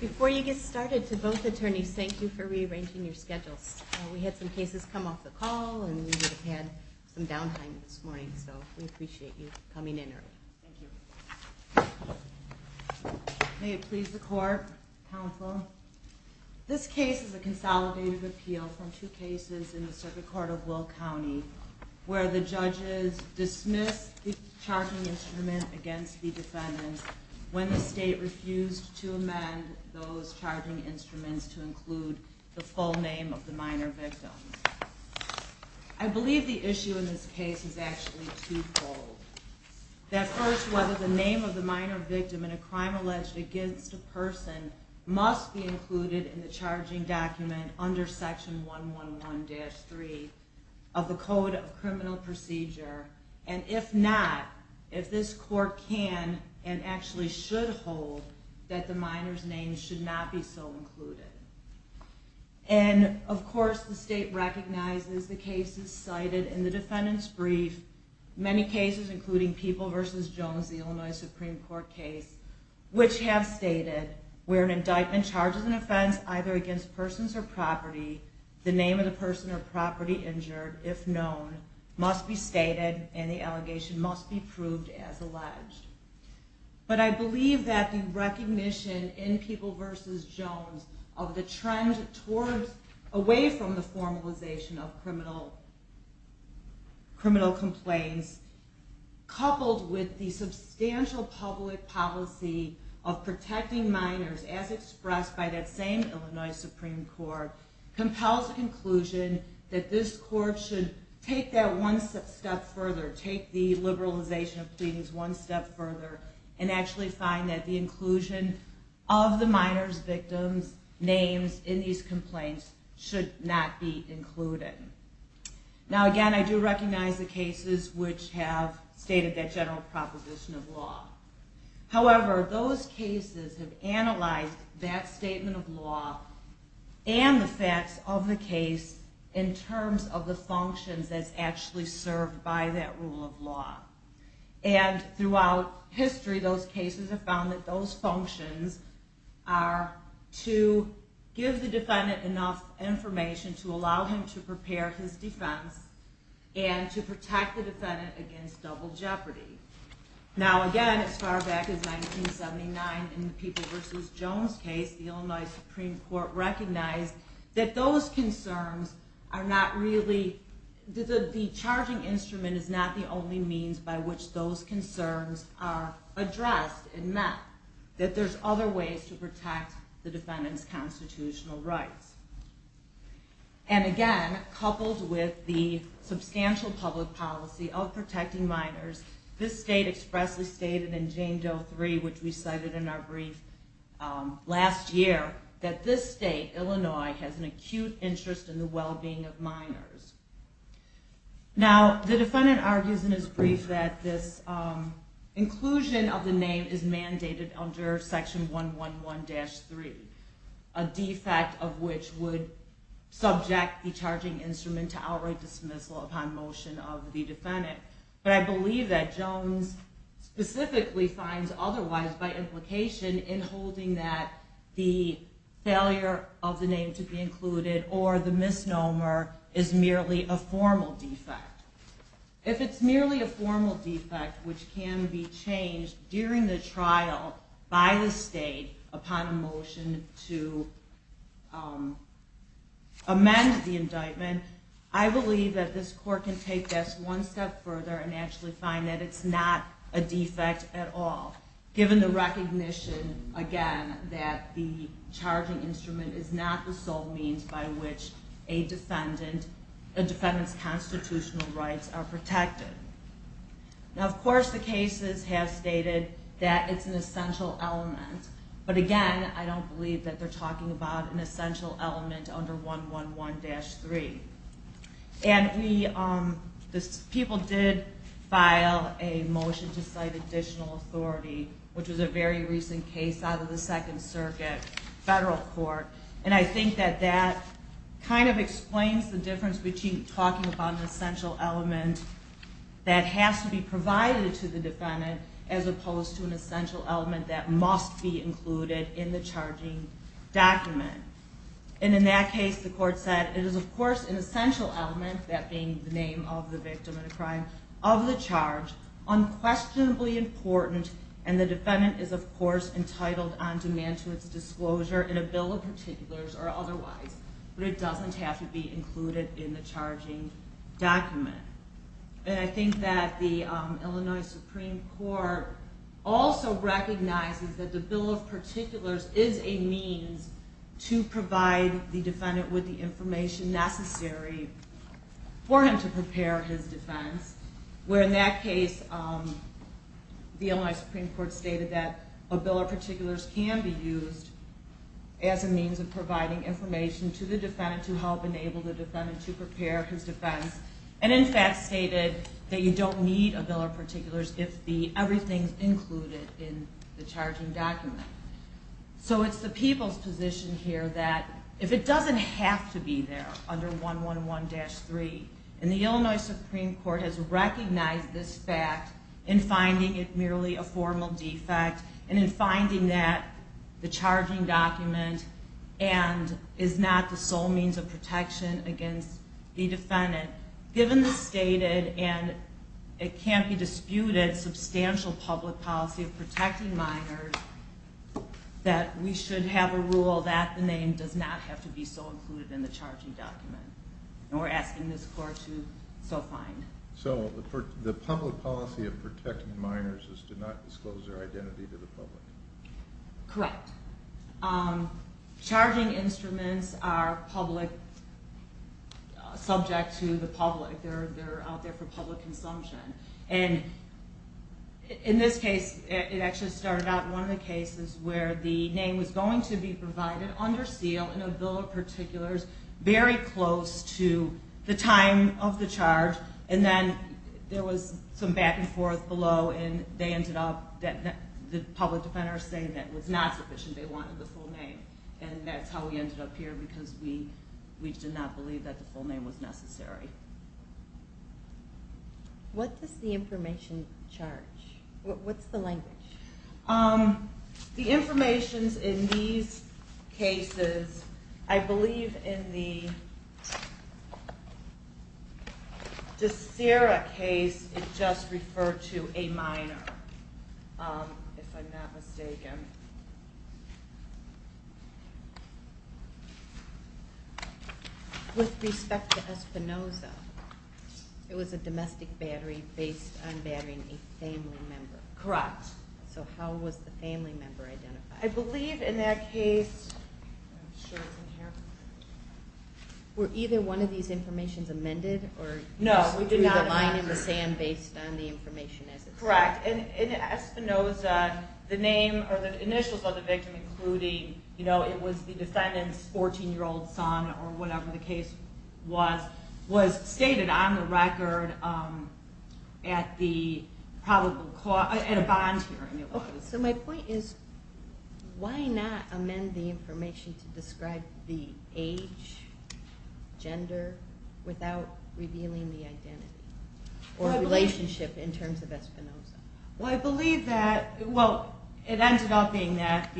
before you get started to both attorneys. Thank you for rearranging your schedules. We had some cases come off the call and we've had some downtime this morning. So we appreciate your time and we're going to move on to the next case. We appreciate you coming in early. Thank you. May it please the court, counsel. This case is a consolidated appeal from two cases in the circuit court of Will County where the judges dismissed the charging instrument against the defendants when the state refused to amend those charging instruments to include the full name of the minor victim. I believe the issue in this case is actually twofold. That first, whether the name of the minor victim in a crime alleged against a person must be included in the charging document under section 111-3 of the Code of Criminal Procedure. And if not, if this court can and actually should hold that the minor's name should not be so included. And of course the state recognizes the cases cited in the defendant's brief, many cases including People v. Jones, the Illinois Supreme Court case, which have stated where an indictment charges an offense either against persons or property, the name of the person or property injured, if known, must be stated and the allegation must be proved as alleged. But I believe that the recognition in People v. Jones of the trend away from the formalization of criminal complaints, coupled with the substantial public policy of protecting minors as expressed by that same Illinois Supreme Court, compels the conclusion that this court should take that one step further. Take the liberalization of pleadings one step further and actually find that the inclusion of the minor's victims' names in these complaints should not be included. Now again, I do recognize the cases which have stated that general proposition of law. However, those cases have analyzed that statement of law and the facts of the case in terms of the functions that's actually served by that rule of law. And throughout history, those cases have found that those functions are to give the defendant enough information to allow him to prepare his defense and to protect the defendant against double jeopardy. Now again, as far back as 1979 in the People v. Jones case, the Illinois Supreme Court recognized that the charging instrument is not the only means by which those concerns are addressed and met, that there's other ways to protect the defendant's constitutional rights. And again, coupled with the substantial public policy of protecting minors, this state expressly stated in Jane Doe 3, which we cited in our brief last year, that this state, Illinois, has an acute interest in the well-being of minors. Now, the defendant argues in his brief that this inclusion of the name is mandated under Section 111-3, a defect of which would subject the charging instrument to outright dismissal upon motion of the defendant. But I believe that Jones specifically finds otherwise by implication in holding that the failure of the name to be included or the misnomer is merely a formal defect. If it's merely a formal defect, which can be changed during the trial by the state upon a motion to amend the indictment, I believe that this court can take this one step further and actually find that it's not a defect at all, given the recognition, again, that the charging instrument is not the sole means by which a defendant's constitutional rights are protected. Now, of course, the cases have stated that it's an essential element, but again, I don't believe that they're talking about an essential element under 111-3. And people did file a motion to cite additional authority, which was a very recent case out of the Second Circuit Federal Court, and I think that that kind of explains the difference between talking about an essential element that has to be provided to the defendant as opposed to an essential element that must be included in the charging document. And in that case, the court said it is, of course, an essential element, that being the name of the victim of the crime, of the charge, unquestionably important, and the defendant is, of course, entitled on demand to its disclosure in a bill of particulars or otherwise, but it doesn't have to be included in the charging document. And I think that the Illinois Supreme Court also recognizes that the bill of particulars is a means to provide the defendant with the information necessary for him to prepare his defense, where in that case, the Illinois Supreme Court stated that a bill of particulars can be used as a means of providing information to the defendant to help enable the defendant to prepare his defense. And in fact, stated that you don't need a bill of particulars if everything is included in the charging document. So it's the people's position here that if it doesn't have to be there under 111-3, and the Illinois Supreme Court has recognized this fact in finding it merely a formal defect, and in finding that the charging document and is not the sole means of protection against the defendant, given the stated, and it can't be disputed, substantial public policy of protecting minors, that we should have a rule that the name does not have to be so included in the charging document. And we're asking this court to so find. So the public policy of protecting minors is to not disclose their identity to the public? And then there was some back and forth below, and they ended up, the public defender saying that was not sufficient, they wanted the full name. And that's how we ended up here, because we did not believe that the full name was necessary. What does the information charge? What's the language? The information in these cases, I believe in the Desira case, it just referred to a minor, if I'm not mistaken. With respect to Espinosa, it was a domestic battery based on batterying a family member. Correct. So how was the family member identified? I believe in that case... Were either one of these informations amended? No, we did not amend it. Correct. In Espinosa, the initials of the victim, including it was the defendant's 14-year-old son or whatever the case was, was stated on the record at a bond hearing. So my point is, why not amend the information to describe the age, gender, without revealing the identity or relationship in terms of Espinosa? Well, I believe that, well, it ended up being that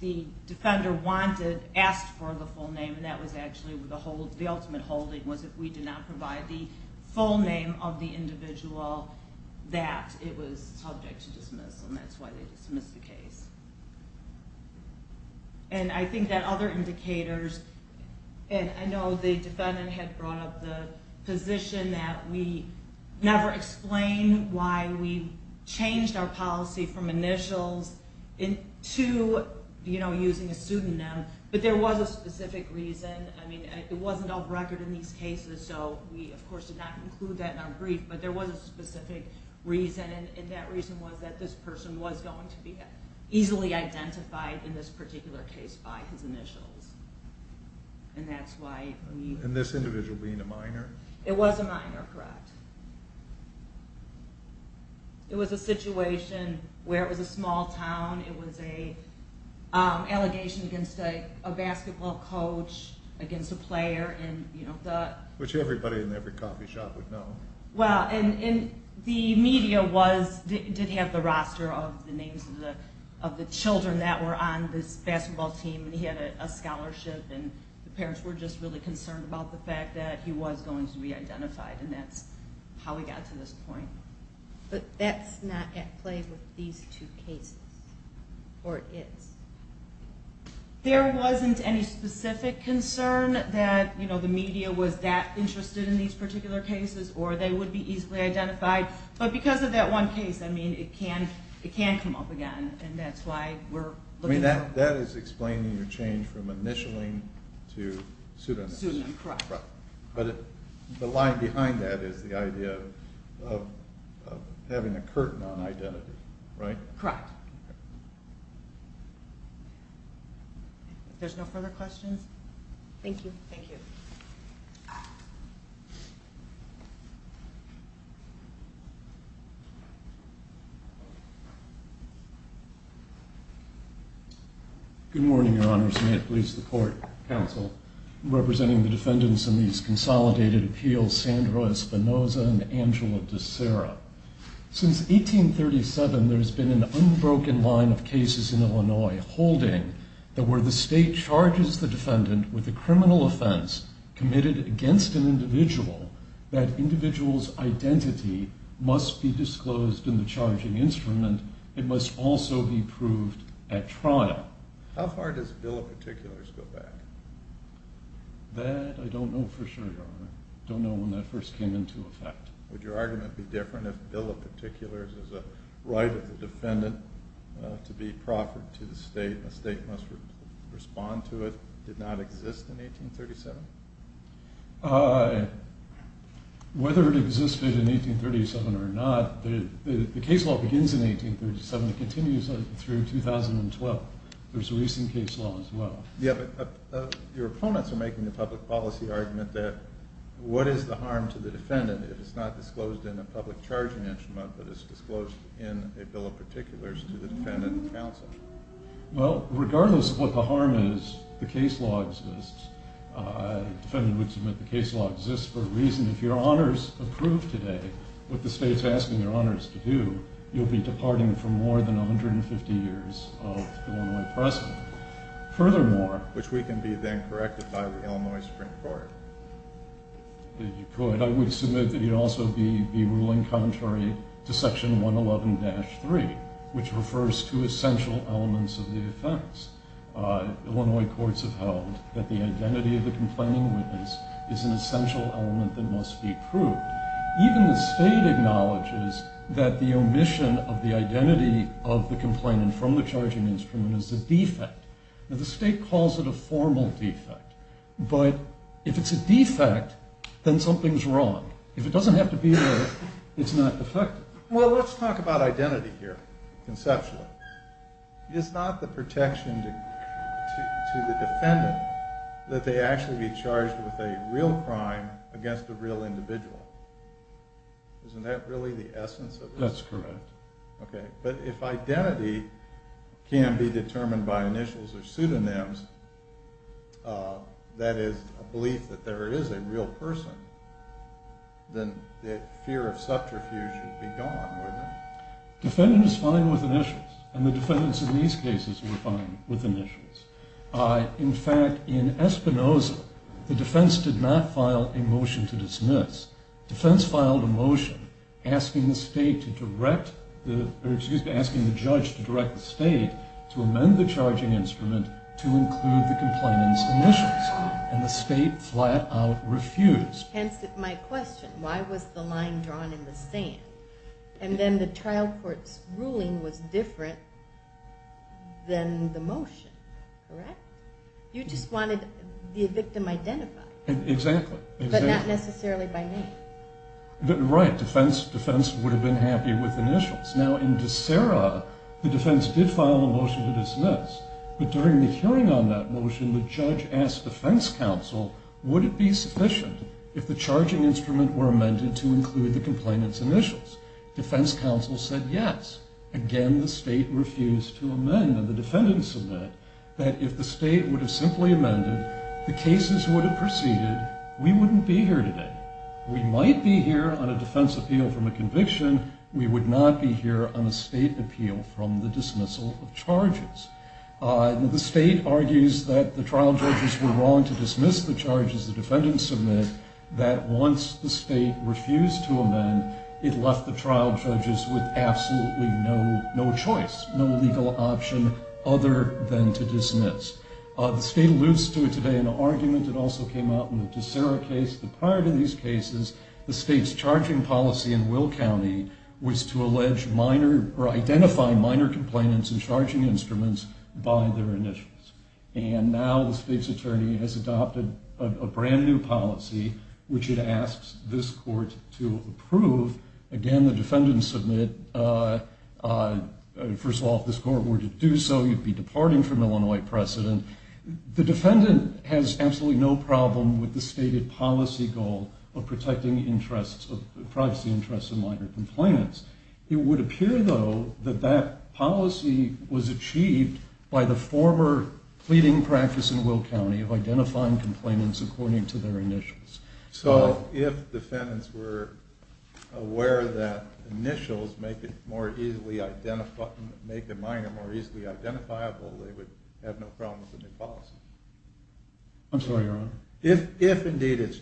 the defender wanted, asked for the full name, and that was actually the ultimate holding, was that we did not provide the full name of the individual that it was subject to dismissal, and that's why they dismissed the case. And I think that other indicators, and I know the defendant had brought up the position that we never explained why we changed our policy from initials to, you know, using a pseudonym, but there was a specific reason. I mean, it wasn't off-record in these cases, so we, of course, did not include that in our brief, but there was a specific reason, and that reason was that this person was going to be easily identified in this particular case by his initials, and that's why we... And this individual being a minor? It was a minor, correct. It was a situation where it was a small town, it was an allegation against a basketball coach, against a player, and, you know, the... Which everybody in every coffee shop would know. Well, and the media did have the roster of the names of the children that were on this basketball team, and he had a scholarship, and the parents were just really concerned about the fact that he was going to be identified, and that's how we got to this point. But that's not at play with these two cases, or is? There wasn't any specific concern that, you know, the media was that interested in these particular cases, or they would be easily identified, but because of that one case, I mean, it can come up again, and that's why we're looking for... I mean, that is explaining your change from initialing to pseudonym. Pseudonym, correct. But the line behind that is the idea of having a curtain on identity, right? Correct. If there's no further questions... Thank you. Thank you. Good morning, Your Honors. May it please the Court, Counsel, representing the defendants in these consolidated appeals, Sandra Espinosa and Angela DeSera. Since 1837, there has been an unbroken line of cases in Illinois holding that where the state charges the defendant with a criminal offense committed against an individual, that individual's identity must be disclosed in the charging instrument. It must also be proved at trial. How far does the Bill of Particulars go back? That, I don't know for sure, Your Honor. I don't know when that first came into effect. Would your argument be different if the Bill of Particulars is a right of the defendant to be proffered to the state and the state must respond to it? Did not exist in 1837? Whether it existed in 1837 or not, the case law begins in 1837. It continues through 2012. There's a recent case law as well. Your opponents are making the public policy argument that what is the harm to the defendant if it's not disclosed in a public charging instrument but is disclosed in a Bill of Particulars to the defendant and counsel? Well, regardless of what the harm is, the case law exists. The defendant would submit the case law exists for a reason. If Your Honors approve today what the state's asking Your Honors to do, you'll be departing for more than 150 years of Illinois precedent. Which we can be then corrected by the Illinois Supreme Court. If you could, I would submit that you'd also be ruling contrary to Section 111-3, which refers to essential elements of the offense. Now, the state calls it a formal defect, but if it's a defect, then something's wrong. If it doesn't have to be there, it's not defective. Well, let's talk about identity here, conceptually. It's not the protection to the defendant that they actually be charged with a real crime against a real individual. Isn't that really the essence of this? That's correct. But if identity can be determined by initials or pseudonyms, that is, a belief that there is a real person, then the fear of subterfuge should be gone, wouldn't it? Defendants are fine with initials, and the defendants in these cases were fine with initials. In fact, in Espinoza, the defense did not file a motion to dismiss. The defense filed a motion asking the judge to direct the state to amend the charging instrument to include the complainant's initials, and the state flat out refused. Hence my question, why was the line drawn in the sand? And then the trial court's ruling was different than the motion, correct? You just wanted the victim identified. Exactly. But not necessarily by name. Right. Defense would have been happy with initials. Now, in De Sera, the defense did file a motion to dismiss, but during the hearing on that motion, the judge asked defense counsel, would it be sufficient if the charging instrument were amended to include the complainant's initials? Defense counsel said yes. Again, the state refused to amend, and the defendants submit that if the state would have simply amended, the cases would have proceeded, we wouldn't be here today. We might be here on a defense appeal from a conviction, we would not be here on a state appeal from the dismissal of charges. The state argues that the trial judges were wrong to dismiss the charges the defendants submit, that once the state refused to amend, it left the trial judges with absolutely no choice, no legal option other than to dismiss. The state alludes to it today in an argument that also came out in the De Sera case, that prior to these cases, the state's charging policy in Will County was to identify minor complainants and charging instruments by their initials. And now the state's attorney has adopted a brand new policy, which it asks this court to approve. Again, the defendants submit, first of all, if this court were to do so, you'd be departing from Illinois precedent. The defendant has absolutely no problem with the stated policy goal of protecting privacy interests of minor complainants. It would appear, though, that that policy was achieved by the former pleading practice in Will County of identifying complainants according to their initials. So if defendants were aware that initials make a minor more easily identifiable, they would have no problem with the new policy? I'm sorry, your honor? In a given case,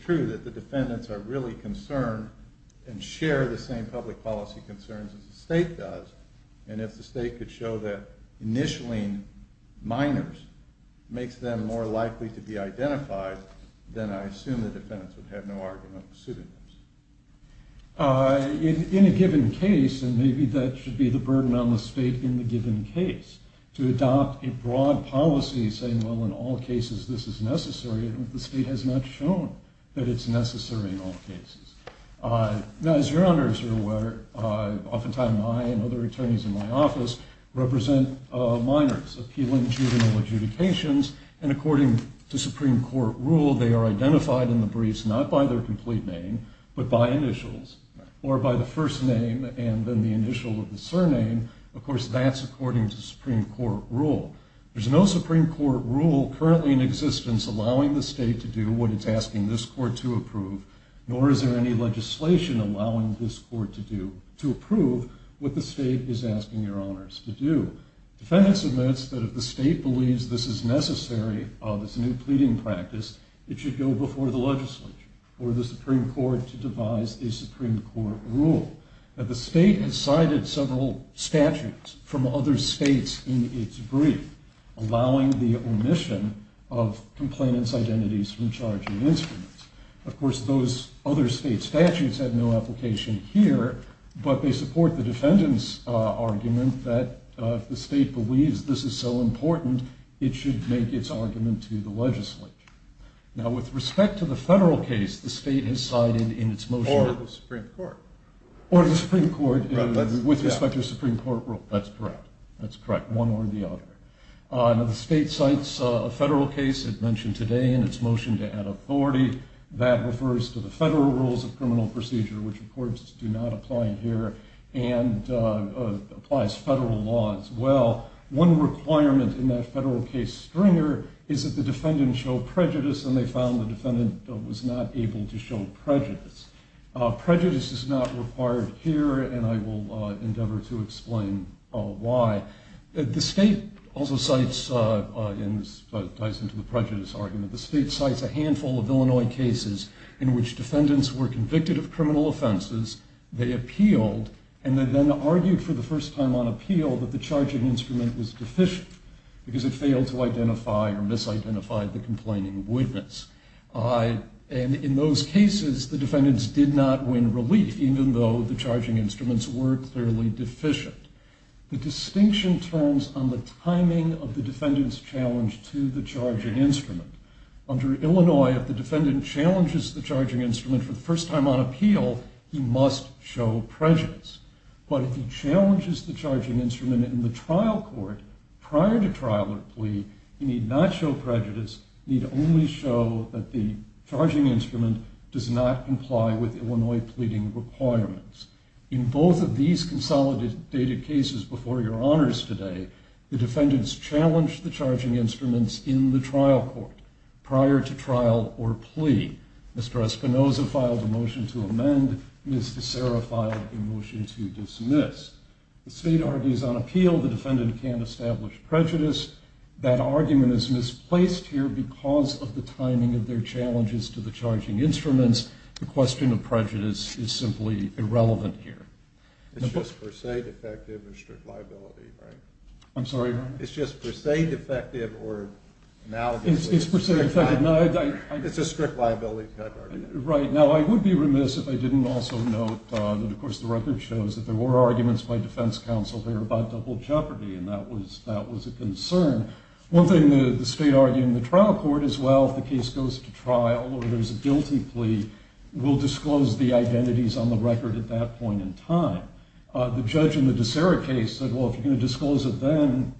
and maybe that should be the burden on the state in the given case, to adopt a broad policy saying, well, in all cases this is necessary, the state has not shown that it's necessary in all cases. Now, as your honors are aware, oftentimes I and other attorneys in my office represent minors appealing juvenile adjudications, and according to Supreme Court rule, they are identified in the briefs not by their complete name, but by initials, or by the first name and then the initial of the surname. Of course, that's according to Supreme Court rule. There's no Supreme Court rule currently in existence allowing the state to do what it's asking this court to approve, nor is there any legislation allowing this court to approve what the state is asking your honors to do. Defendants admits that if the state believes this is necessary, this new pleading practice, it should go before the legislature or the Supreme Court to devise a Supreme Court rule. The state has cited several statutes from other states in its brief, allowing the omission of complainant's identities from charging instruments. Of course, those other state statutes have no application here, but they support the defendant's argument that if the state believes this is so important, it should make its argument to the legislature. Now, with respect to the federal case, the state has cited in its motion- Or the Supreme Court. Or the Supreme Court, with respect to Supreme Court rule. That's correct. That's correct, one or the other. Now, the state cites a federal case, as mentioned today, in its motion to add authority. That refers to the federal rules of criminal procedure, which, of course, do not apply here, and applies federal law as well. One requirement in that federal case stringer is that the defendant show prejudice, and they found the defendant was not able to show prejudice. Prejudice is not required here, and I will endeavor to explain why. The state also cites, and this ties into the prejudice argument, the state cites a handful of Illinois cases in which defendants were convicted of criminal offenses, they appealed, and then argued for the first time on appeal that the charging instrument was deficient, because it failed to identify or misidentified the complaining witness. And in those cases, the defendants did not win relief, even though the charging instruments were clearly deficient. The distinction turns on the timing of the defendant's challenge to the charging instrument. Under Illinois, if the defendant challenges the charging instrument for the first time on appeal, he must show prejudice. But if he challenges the charging instrument in the trial court, prior to trial or plea, he need not show prejudice, need only show that the charging instrument does not comply with Illinois pleading requirements. In both of these consolidated cases before your honors today, the defendants challenged the charging instruments in the trial court prior to trial or plea. Mr. Espinoza filed a motion to amend, Ms. DeSera filed a motion to dismiss. The state argues on appeal the defendant can't establish prejudice. That argument is misplaced here because of the timing of their challenges to the charging instruments. The question of prejudice is simply irrelevant here. It's just per se defective or strict liability, right? I'm sorry? It's just per se defective or analogous. It's per se defective. It's a strict liability type argument. Right. Now, I would be remiss if I didn't also note that, of course, the record shows that there were arguments by defense counsel there about double jeopardy. And that was a concern. One thing the state argued in the trial court is, well, if the case goes to trial or there's a guilty plea, we'll disclose the identities on the record at that point in time. The judge in the DeSera case said, well, if you're going to disclose it then,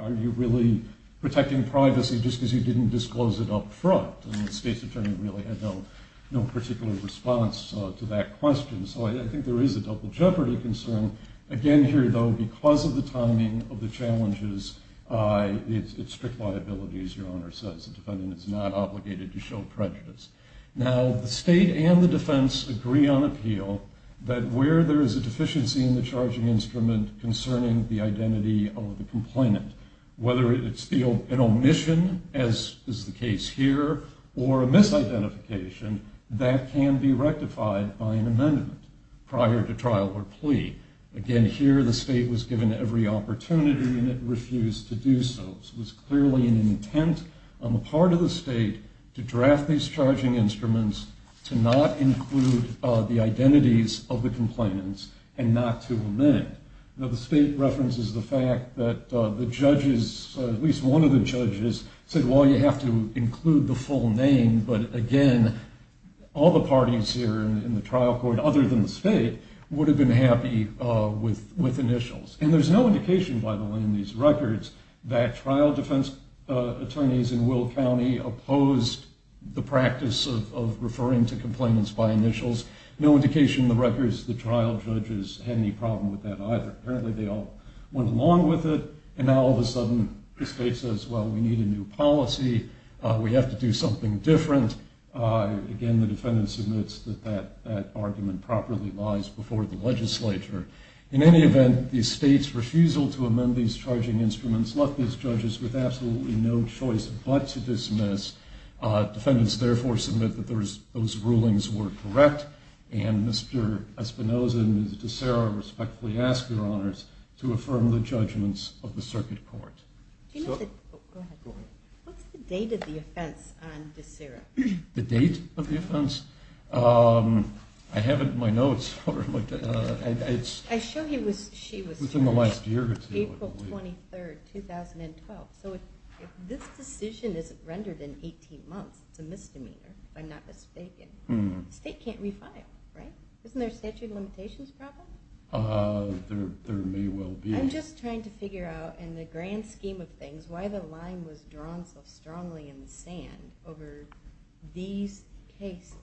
are you really protecting privacy just because you didn't disclose it up front? And the state's attorney really had no particular response to that question. So I think there is a double jeopardy concern. Again, here, though, because of the timing of the challenges, it's strict liability, as your Honor says. The defendant is not obligated to show prejudice. Now, the state and the defense agree on appeal that where there is a deficiency in the charging instrument concerning the identity of the complainant, whether it's an omission, as is the case here, or a misidentification, that can be rectified by an amendment prior to trial or plea. Again, here, the state was given every opportunity and it refused to do so. So it was clearly an intent on the part of the state to draft these charging instruments to not include the identities of the complainants and not to amend. Now, the state references the fact that the judges, at least one of the judges, said, well, you have to include the full name. But again, all the parties here in the trial court, other than the state, would have been happy with initials. And there's no indication, by the way, in these records that trial defense attorneys in Will County opposed the practice of referring to complainants by initials. No indication in the records that trial judges had any problem with that either. Apparently, they all went along with it. And now, all of a sudden, the state says, well, we need a new policy. We have to do something different. Again, the defendant submits that that argument properly lies before the legislature. In any event, the state's refusal to amend these charging instruments left these judges with absolutely no choice but to dismiss. Defendants, therefore, submit that those rulings were correct. And Mr. Espinoza and Ms. DeSera respectfully ask your honors to affirm the judgments of the circuit court. Go ahead. What's the date of the offense on DeSera? The date of the offense? I have it in my notes. I'm sure she was here April 23, 2012. So if this decision isn't rendered in 18 months, it's a misdemeanor if I'm not mistaken, the state can't refile, right? Isn't there a statute of limitations problem? There may well be. I'm just trying to figure out in the grand scheme of things why the line was drawn so strongly in the sand over these cases.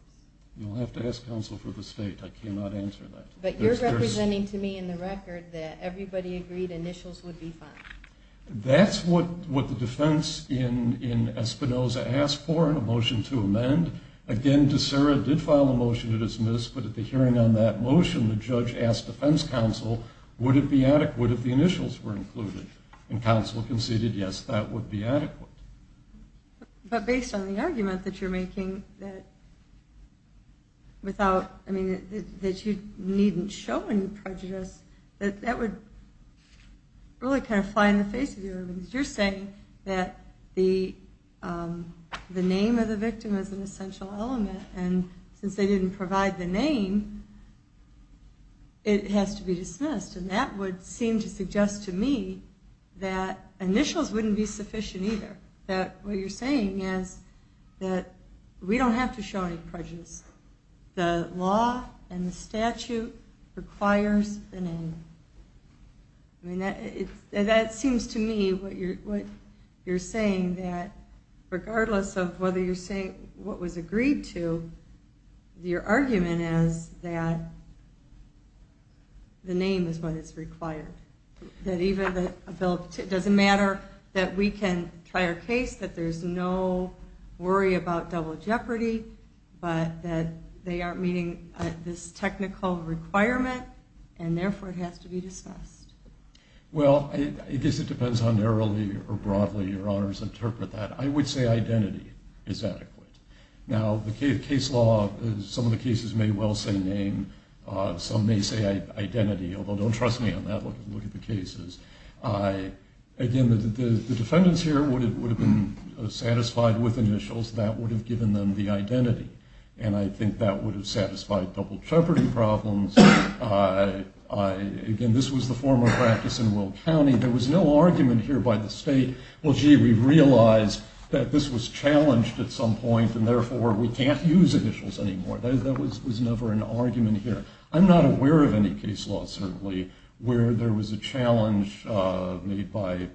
You'll have to ask counsel for the state. I cannot answer that. But you're representing to me in the record that everybody agreed initials would be fine. That's what the defense in Espinoza asked for in a motion to amend. Again, DeSera did file a motion to dismiss. But at the hearing on that motion, the judge asked defense counsel would it be adequate if the initials were included. And counsel conceded, yes, that would be adequate. But based on the argument that you're making that you needn't show any prejudice, that would really kind of fly in the face of you. You're saying that the name of the victim is an essential element. And since they didn't provide the name, it has to be dismissed. And that would seem to suggest to me that initials wouldn't be sufficient either. That what you're saying is that we don't have to show any prejudice. The law and the statute requires the name. I mean, that seems to me what you're saying, that regardless of whether you're saying what was agreed to, your argument is that the name is what is required. It doesn't matter that we can try our case, that there's no worry about double jeopardy, but that they aren't meeting this technical requirement, and therefore it has to be dismissed. Well, I guess it depends on how narrowly or broadly your honors interpret that. I would say identity is adequate. Now, the case law, some of the cases may well say name. Some may say identity, although don't trust me on that. Look at the cases. Again, the defendants here would have been satisfied with initials. That would have given them the identity. And I think that would have satisfied double jeopardy problems. Again, this was the form of practice in Will County. There was no argument here by the state, well, gee, we realize that this was challenged at some point, and therefore we can't use initials anymore. There was never an argument here. I'm not aware of any case law, certainly, where there was a challenge made by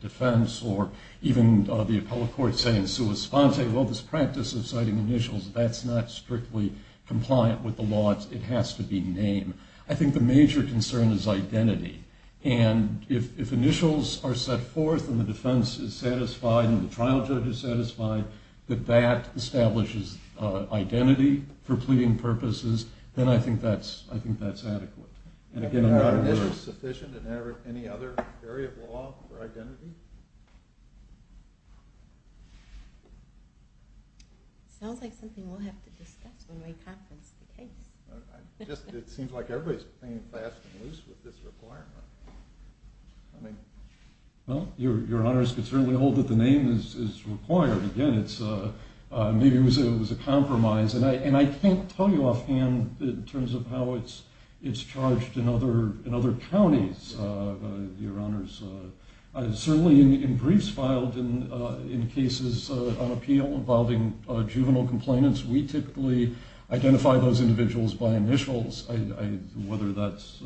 defense or even the appellate court saying sua sponte, well, this practice of citing initials, that's not strictly compliant with the law. It has to be name. I think the major concern is identity. And if initials are set forth and the defense is satisfied and the trial judge is satisfied that that establishes identity for pleading purposes, then I think that's adequate. And again, is initials sufficient in any other area of law for identity? It sounds like something we'll have to discuss when we conference the case. It seems like everybody's playing fast and loose with this requirement. Well, Your Honor, it's certainly old that the name is required. Again, maybe it was a compromise. And I can't tell you offhand in terms of how it's charged in other counties, Your Honors. Certainly in briefs filed in cases on appeal involving juvenile complainants, we typically identify those individuals by initials, whether that's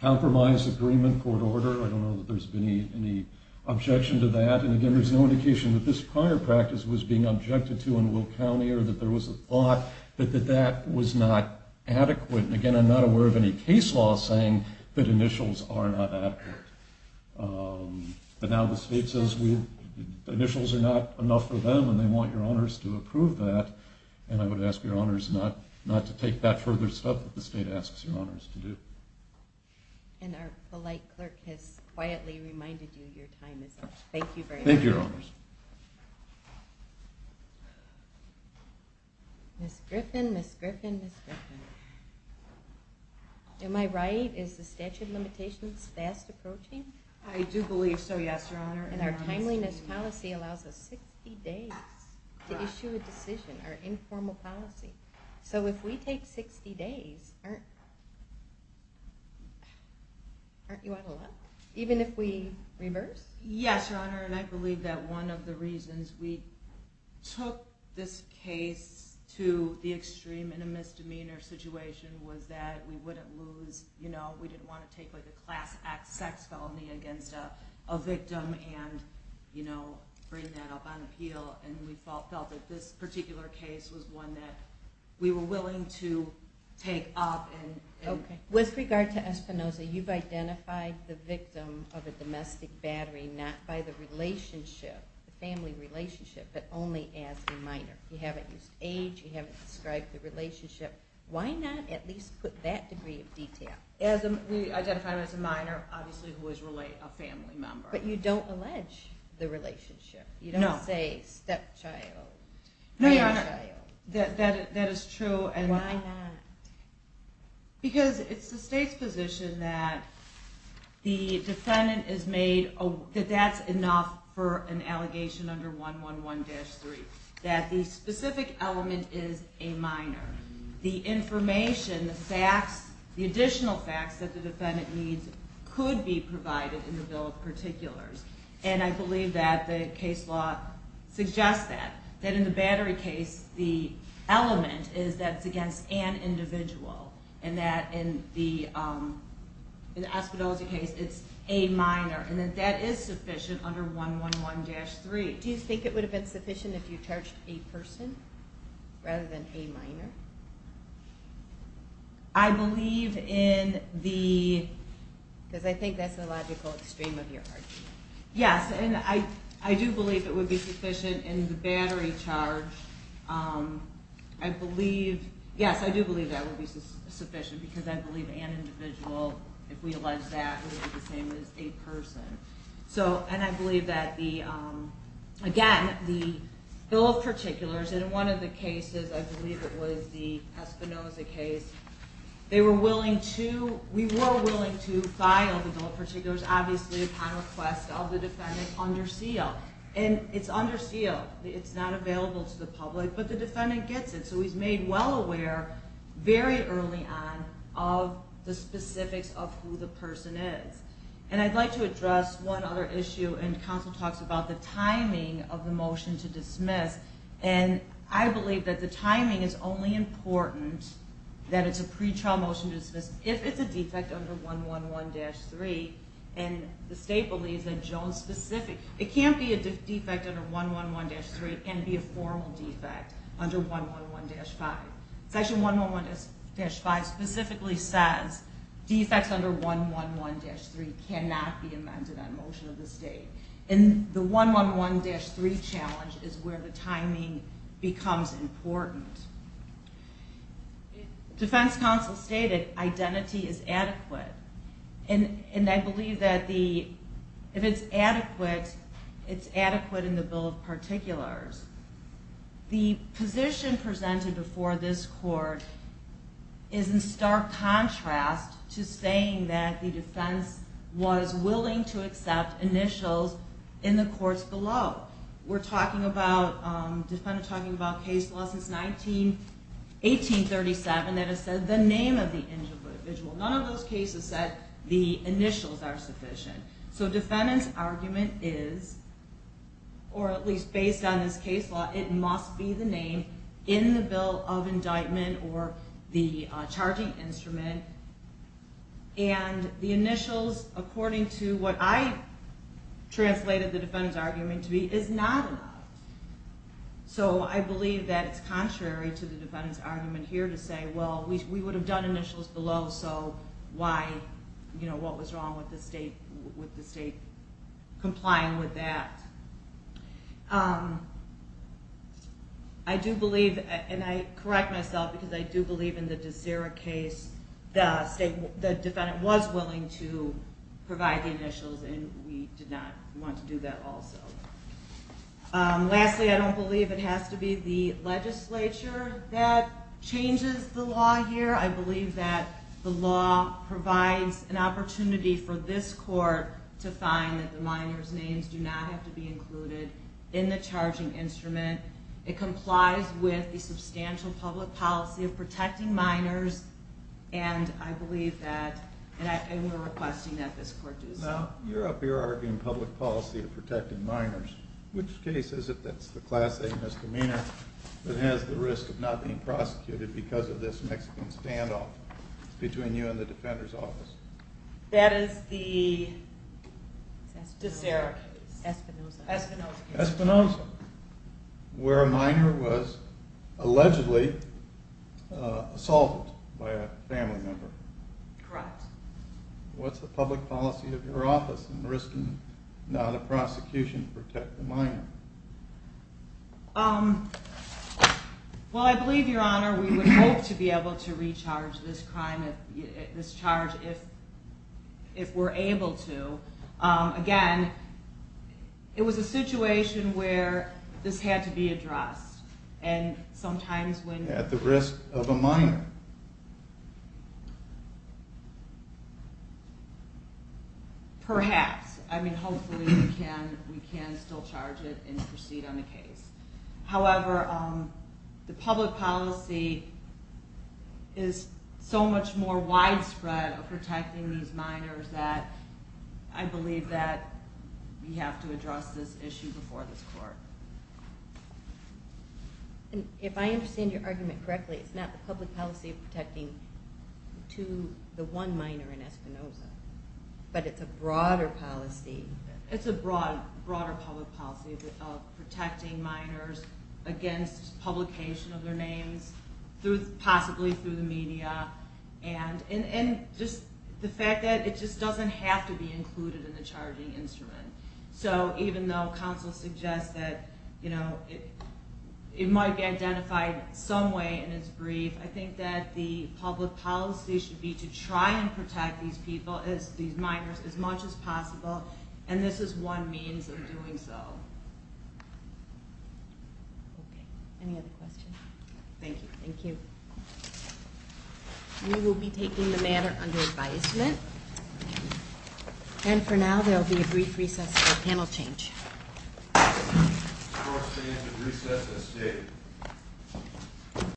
compromise, agreement, court order. I don't know that there's been any objection to that. And again, there's no indication that this prior practice was being objected to in Will County or that there was a thought that that was not adequate. And again, I'm not aware of any case law saying that initials are not adequate. But now the state says initials are not enough for them and they want Your Honors to approve that. And I would ask Your Honors not to take that further step that the state asks Your Honors to do. And our polite clerk has quietly reminded you your time is up. Thank you very much. Thank you, Your Honors. Ms. Griffin, Ms. Griffin, Ms. Griffin. Am I right? Is the statute of limitations fast approaching? I do believe so, yes, Your Honor. And our timeliness policy allows us 60 days to issue a decision, our informal policy. So if we take 60 days, aren't you out of luck? Even if we reverse? Yes, Your Honor, and I believe that one of the reasons we took this case to the extreme in a misdemeanor situation was that we wouldn't lose, you know, we didn't want to take like a class act sex felony against a victim and, you know, bring that up on appeal. And we felt that this particular case was one that we were willing to take up. With regard to Espinoza, you've identified the victim of a domestic battery not by the relationship, the family relationship, but only as a minor. You haven't used age, you haven't described the relationship. Why not at least put that degree of detail? We identified him as a minor, obviously, who was really a family member. But you don't allege the relationship. No. You don't say stepchild, grandchild. No, Your Honor, that is true. Why not? Because it's the state's position that the defendant is made, that that's enough for an allegation under 111-3, that the specific element is a minor. The information, the facts, the additional facts that the defendant needs could be provided in the bill of particulars. And I believe that the case law suggests that. That in the battery case, the element is that it's against an individual and that in the Espinoza case, it's a minor. And that that is sufficient under 111-3. Do you think it would have been sufficient if you charged a person rather than a minor? I believe in the... Because I think that's the logical extreme of your argument. Yes, and I do believe it would be sufficient in the battery charge. I believe, yes, I do believe that would be sufficient because I believe an individual, if we allege that, would be the same as a person. And I believe that, again, the bill of particulars, and in one of the cases, I believe it was the Espinoza case, they were willing to, we were willing to file the bill of particulars, obviously upon request of the defendant under seal. And it's under seal. It's not available to the public, but the defendant gets it. So he's made well aware very early on of the specifics of who the person is. And I'd like to address one other issue, and counsel talks about the timing of the motion to dismiss. And I believe that the timing is only important that it's a pretrial motion to dismiss if it's a defect under 111-3. And the state believes in Jones specific. It can't be a defect under 111-3. It can't be a formal defect under 111-5. Section 111-5 specifically says defects under 111-3 cannot be amended on motion of the state. And the 111-3 challenge is where the timing becomes important. Defense counsel stated identity is adequate. And I believe that if it's adequate, it's adequate in the bill of particulars. The position presented before this court is in stark contrast to saying that the defense was willing to accept initials in the courts below. We're talking about, defendant talking about case law since 1837 that has said the name of the individual. None of those cases said the initials are sufficient. So defendant's argument is, or at least based on this case law, it must be the name in the bill of indictment or the charging instrument. And the initials, according to what I translated the defendant's argument to be, is not enough. So I believe that it's contrary to the defendant's argument here to say, well, we would have done initials below, so why? What was wrong with the state complying with that? I do believe, and I correct myself, because I do believe in the DeSera case, the defendant was willing to provide the initials, and we did not want to do that also. Lastly, I don't believe it has to be the legislature that changes the law here. I believe that the law provides an opportunity for this court to find that the minor's names do not have to be included in the charging instrument. It complies with the substantial public policy of protecting minors, and I believe that, and we're requesting that this court do so. Now, you're up here arguing public policy of protecting minors. Which case is it that's the Class A misdemeanor that has the risk of not being prosecuted because of this Mexican standoff between you and the defender's office? That is the DeSera case. Espinoza. Espinoza, where a minor was allegedly assaulted by a family member. Correct. What's the public policy of your office in risking not a prosecution to protect a minor? Well, I believe, Your Honor, we would hope to be able to recharge this crime, this charge, if we're able to. Again, it was a situation where this had to be addressed, and sometimes when... At the risk of a minor. Perhaps. I mean, hopefully we can still charge it and proceed on the case. However, the public policy is so much more widespread of protecting these minors that I believe that we have to address this issue before this court. If I understand your argument correctly, it's not the public policy of protecting the one minor in Espinoza, but it's a broader policy. It's a broader public policy of protecting minors against publication of their names, possibly through the media, and just the fact that it just doesn't have to be included in the charging instrument. So even though counsel suggests that it might be identified some way in its brief, I think that the public policy should be to try and protect these people, these minors, as much as possible, and this is one means of doing so. Okay. Any other questions? Thank you. Thank you. We will be taking the matter under advisement. And for now, there will be a brief recess for panel change.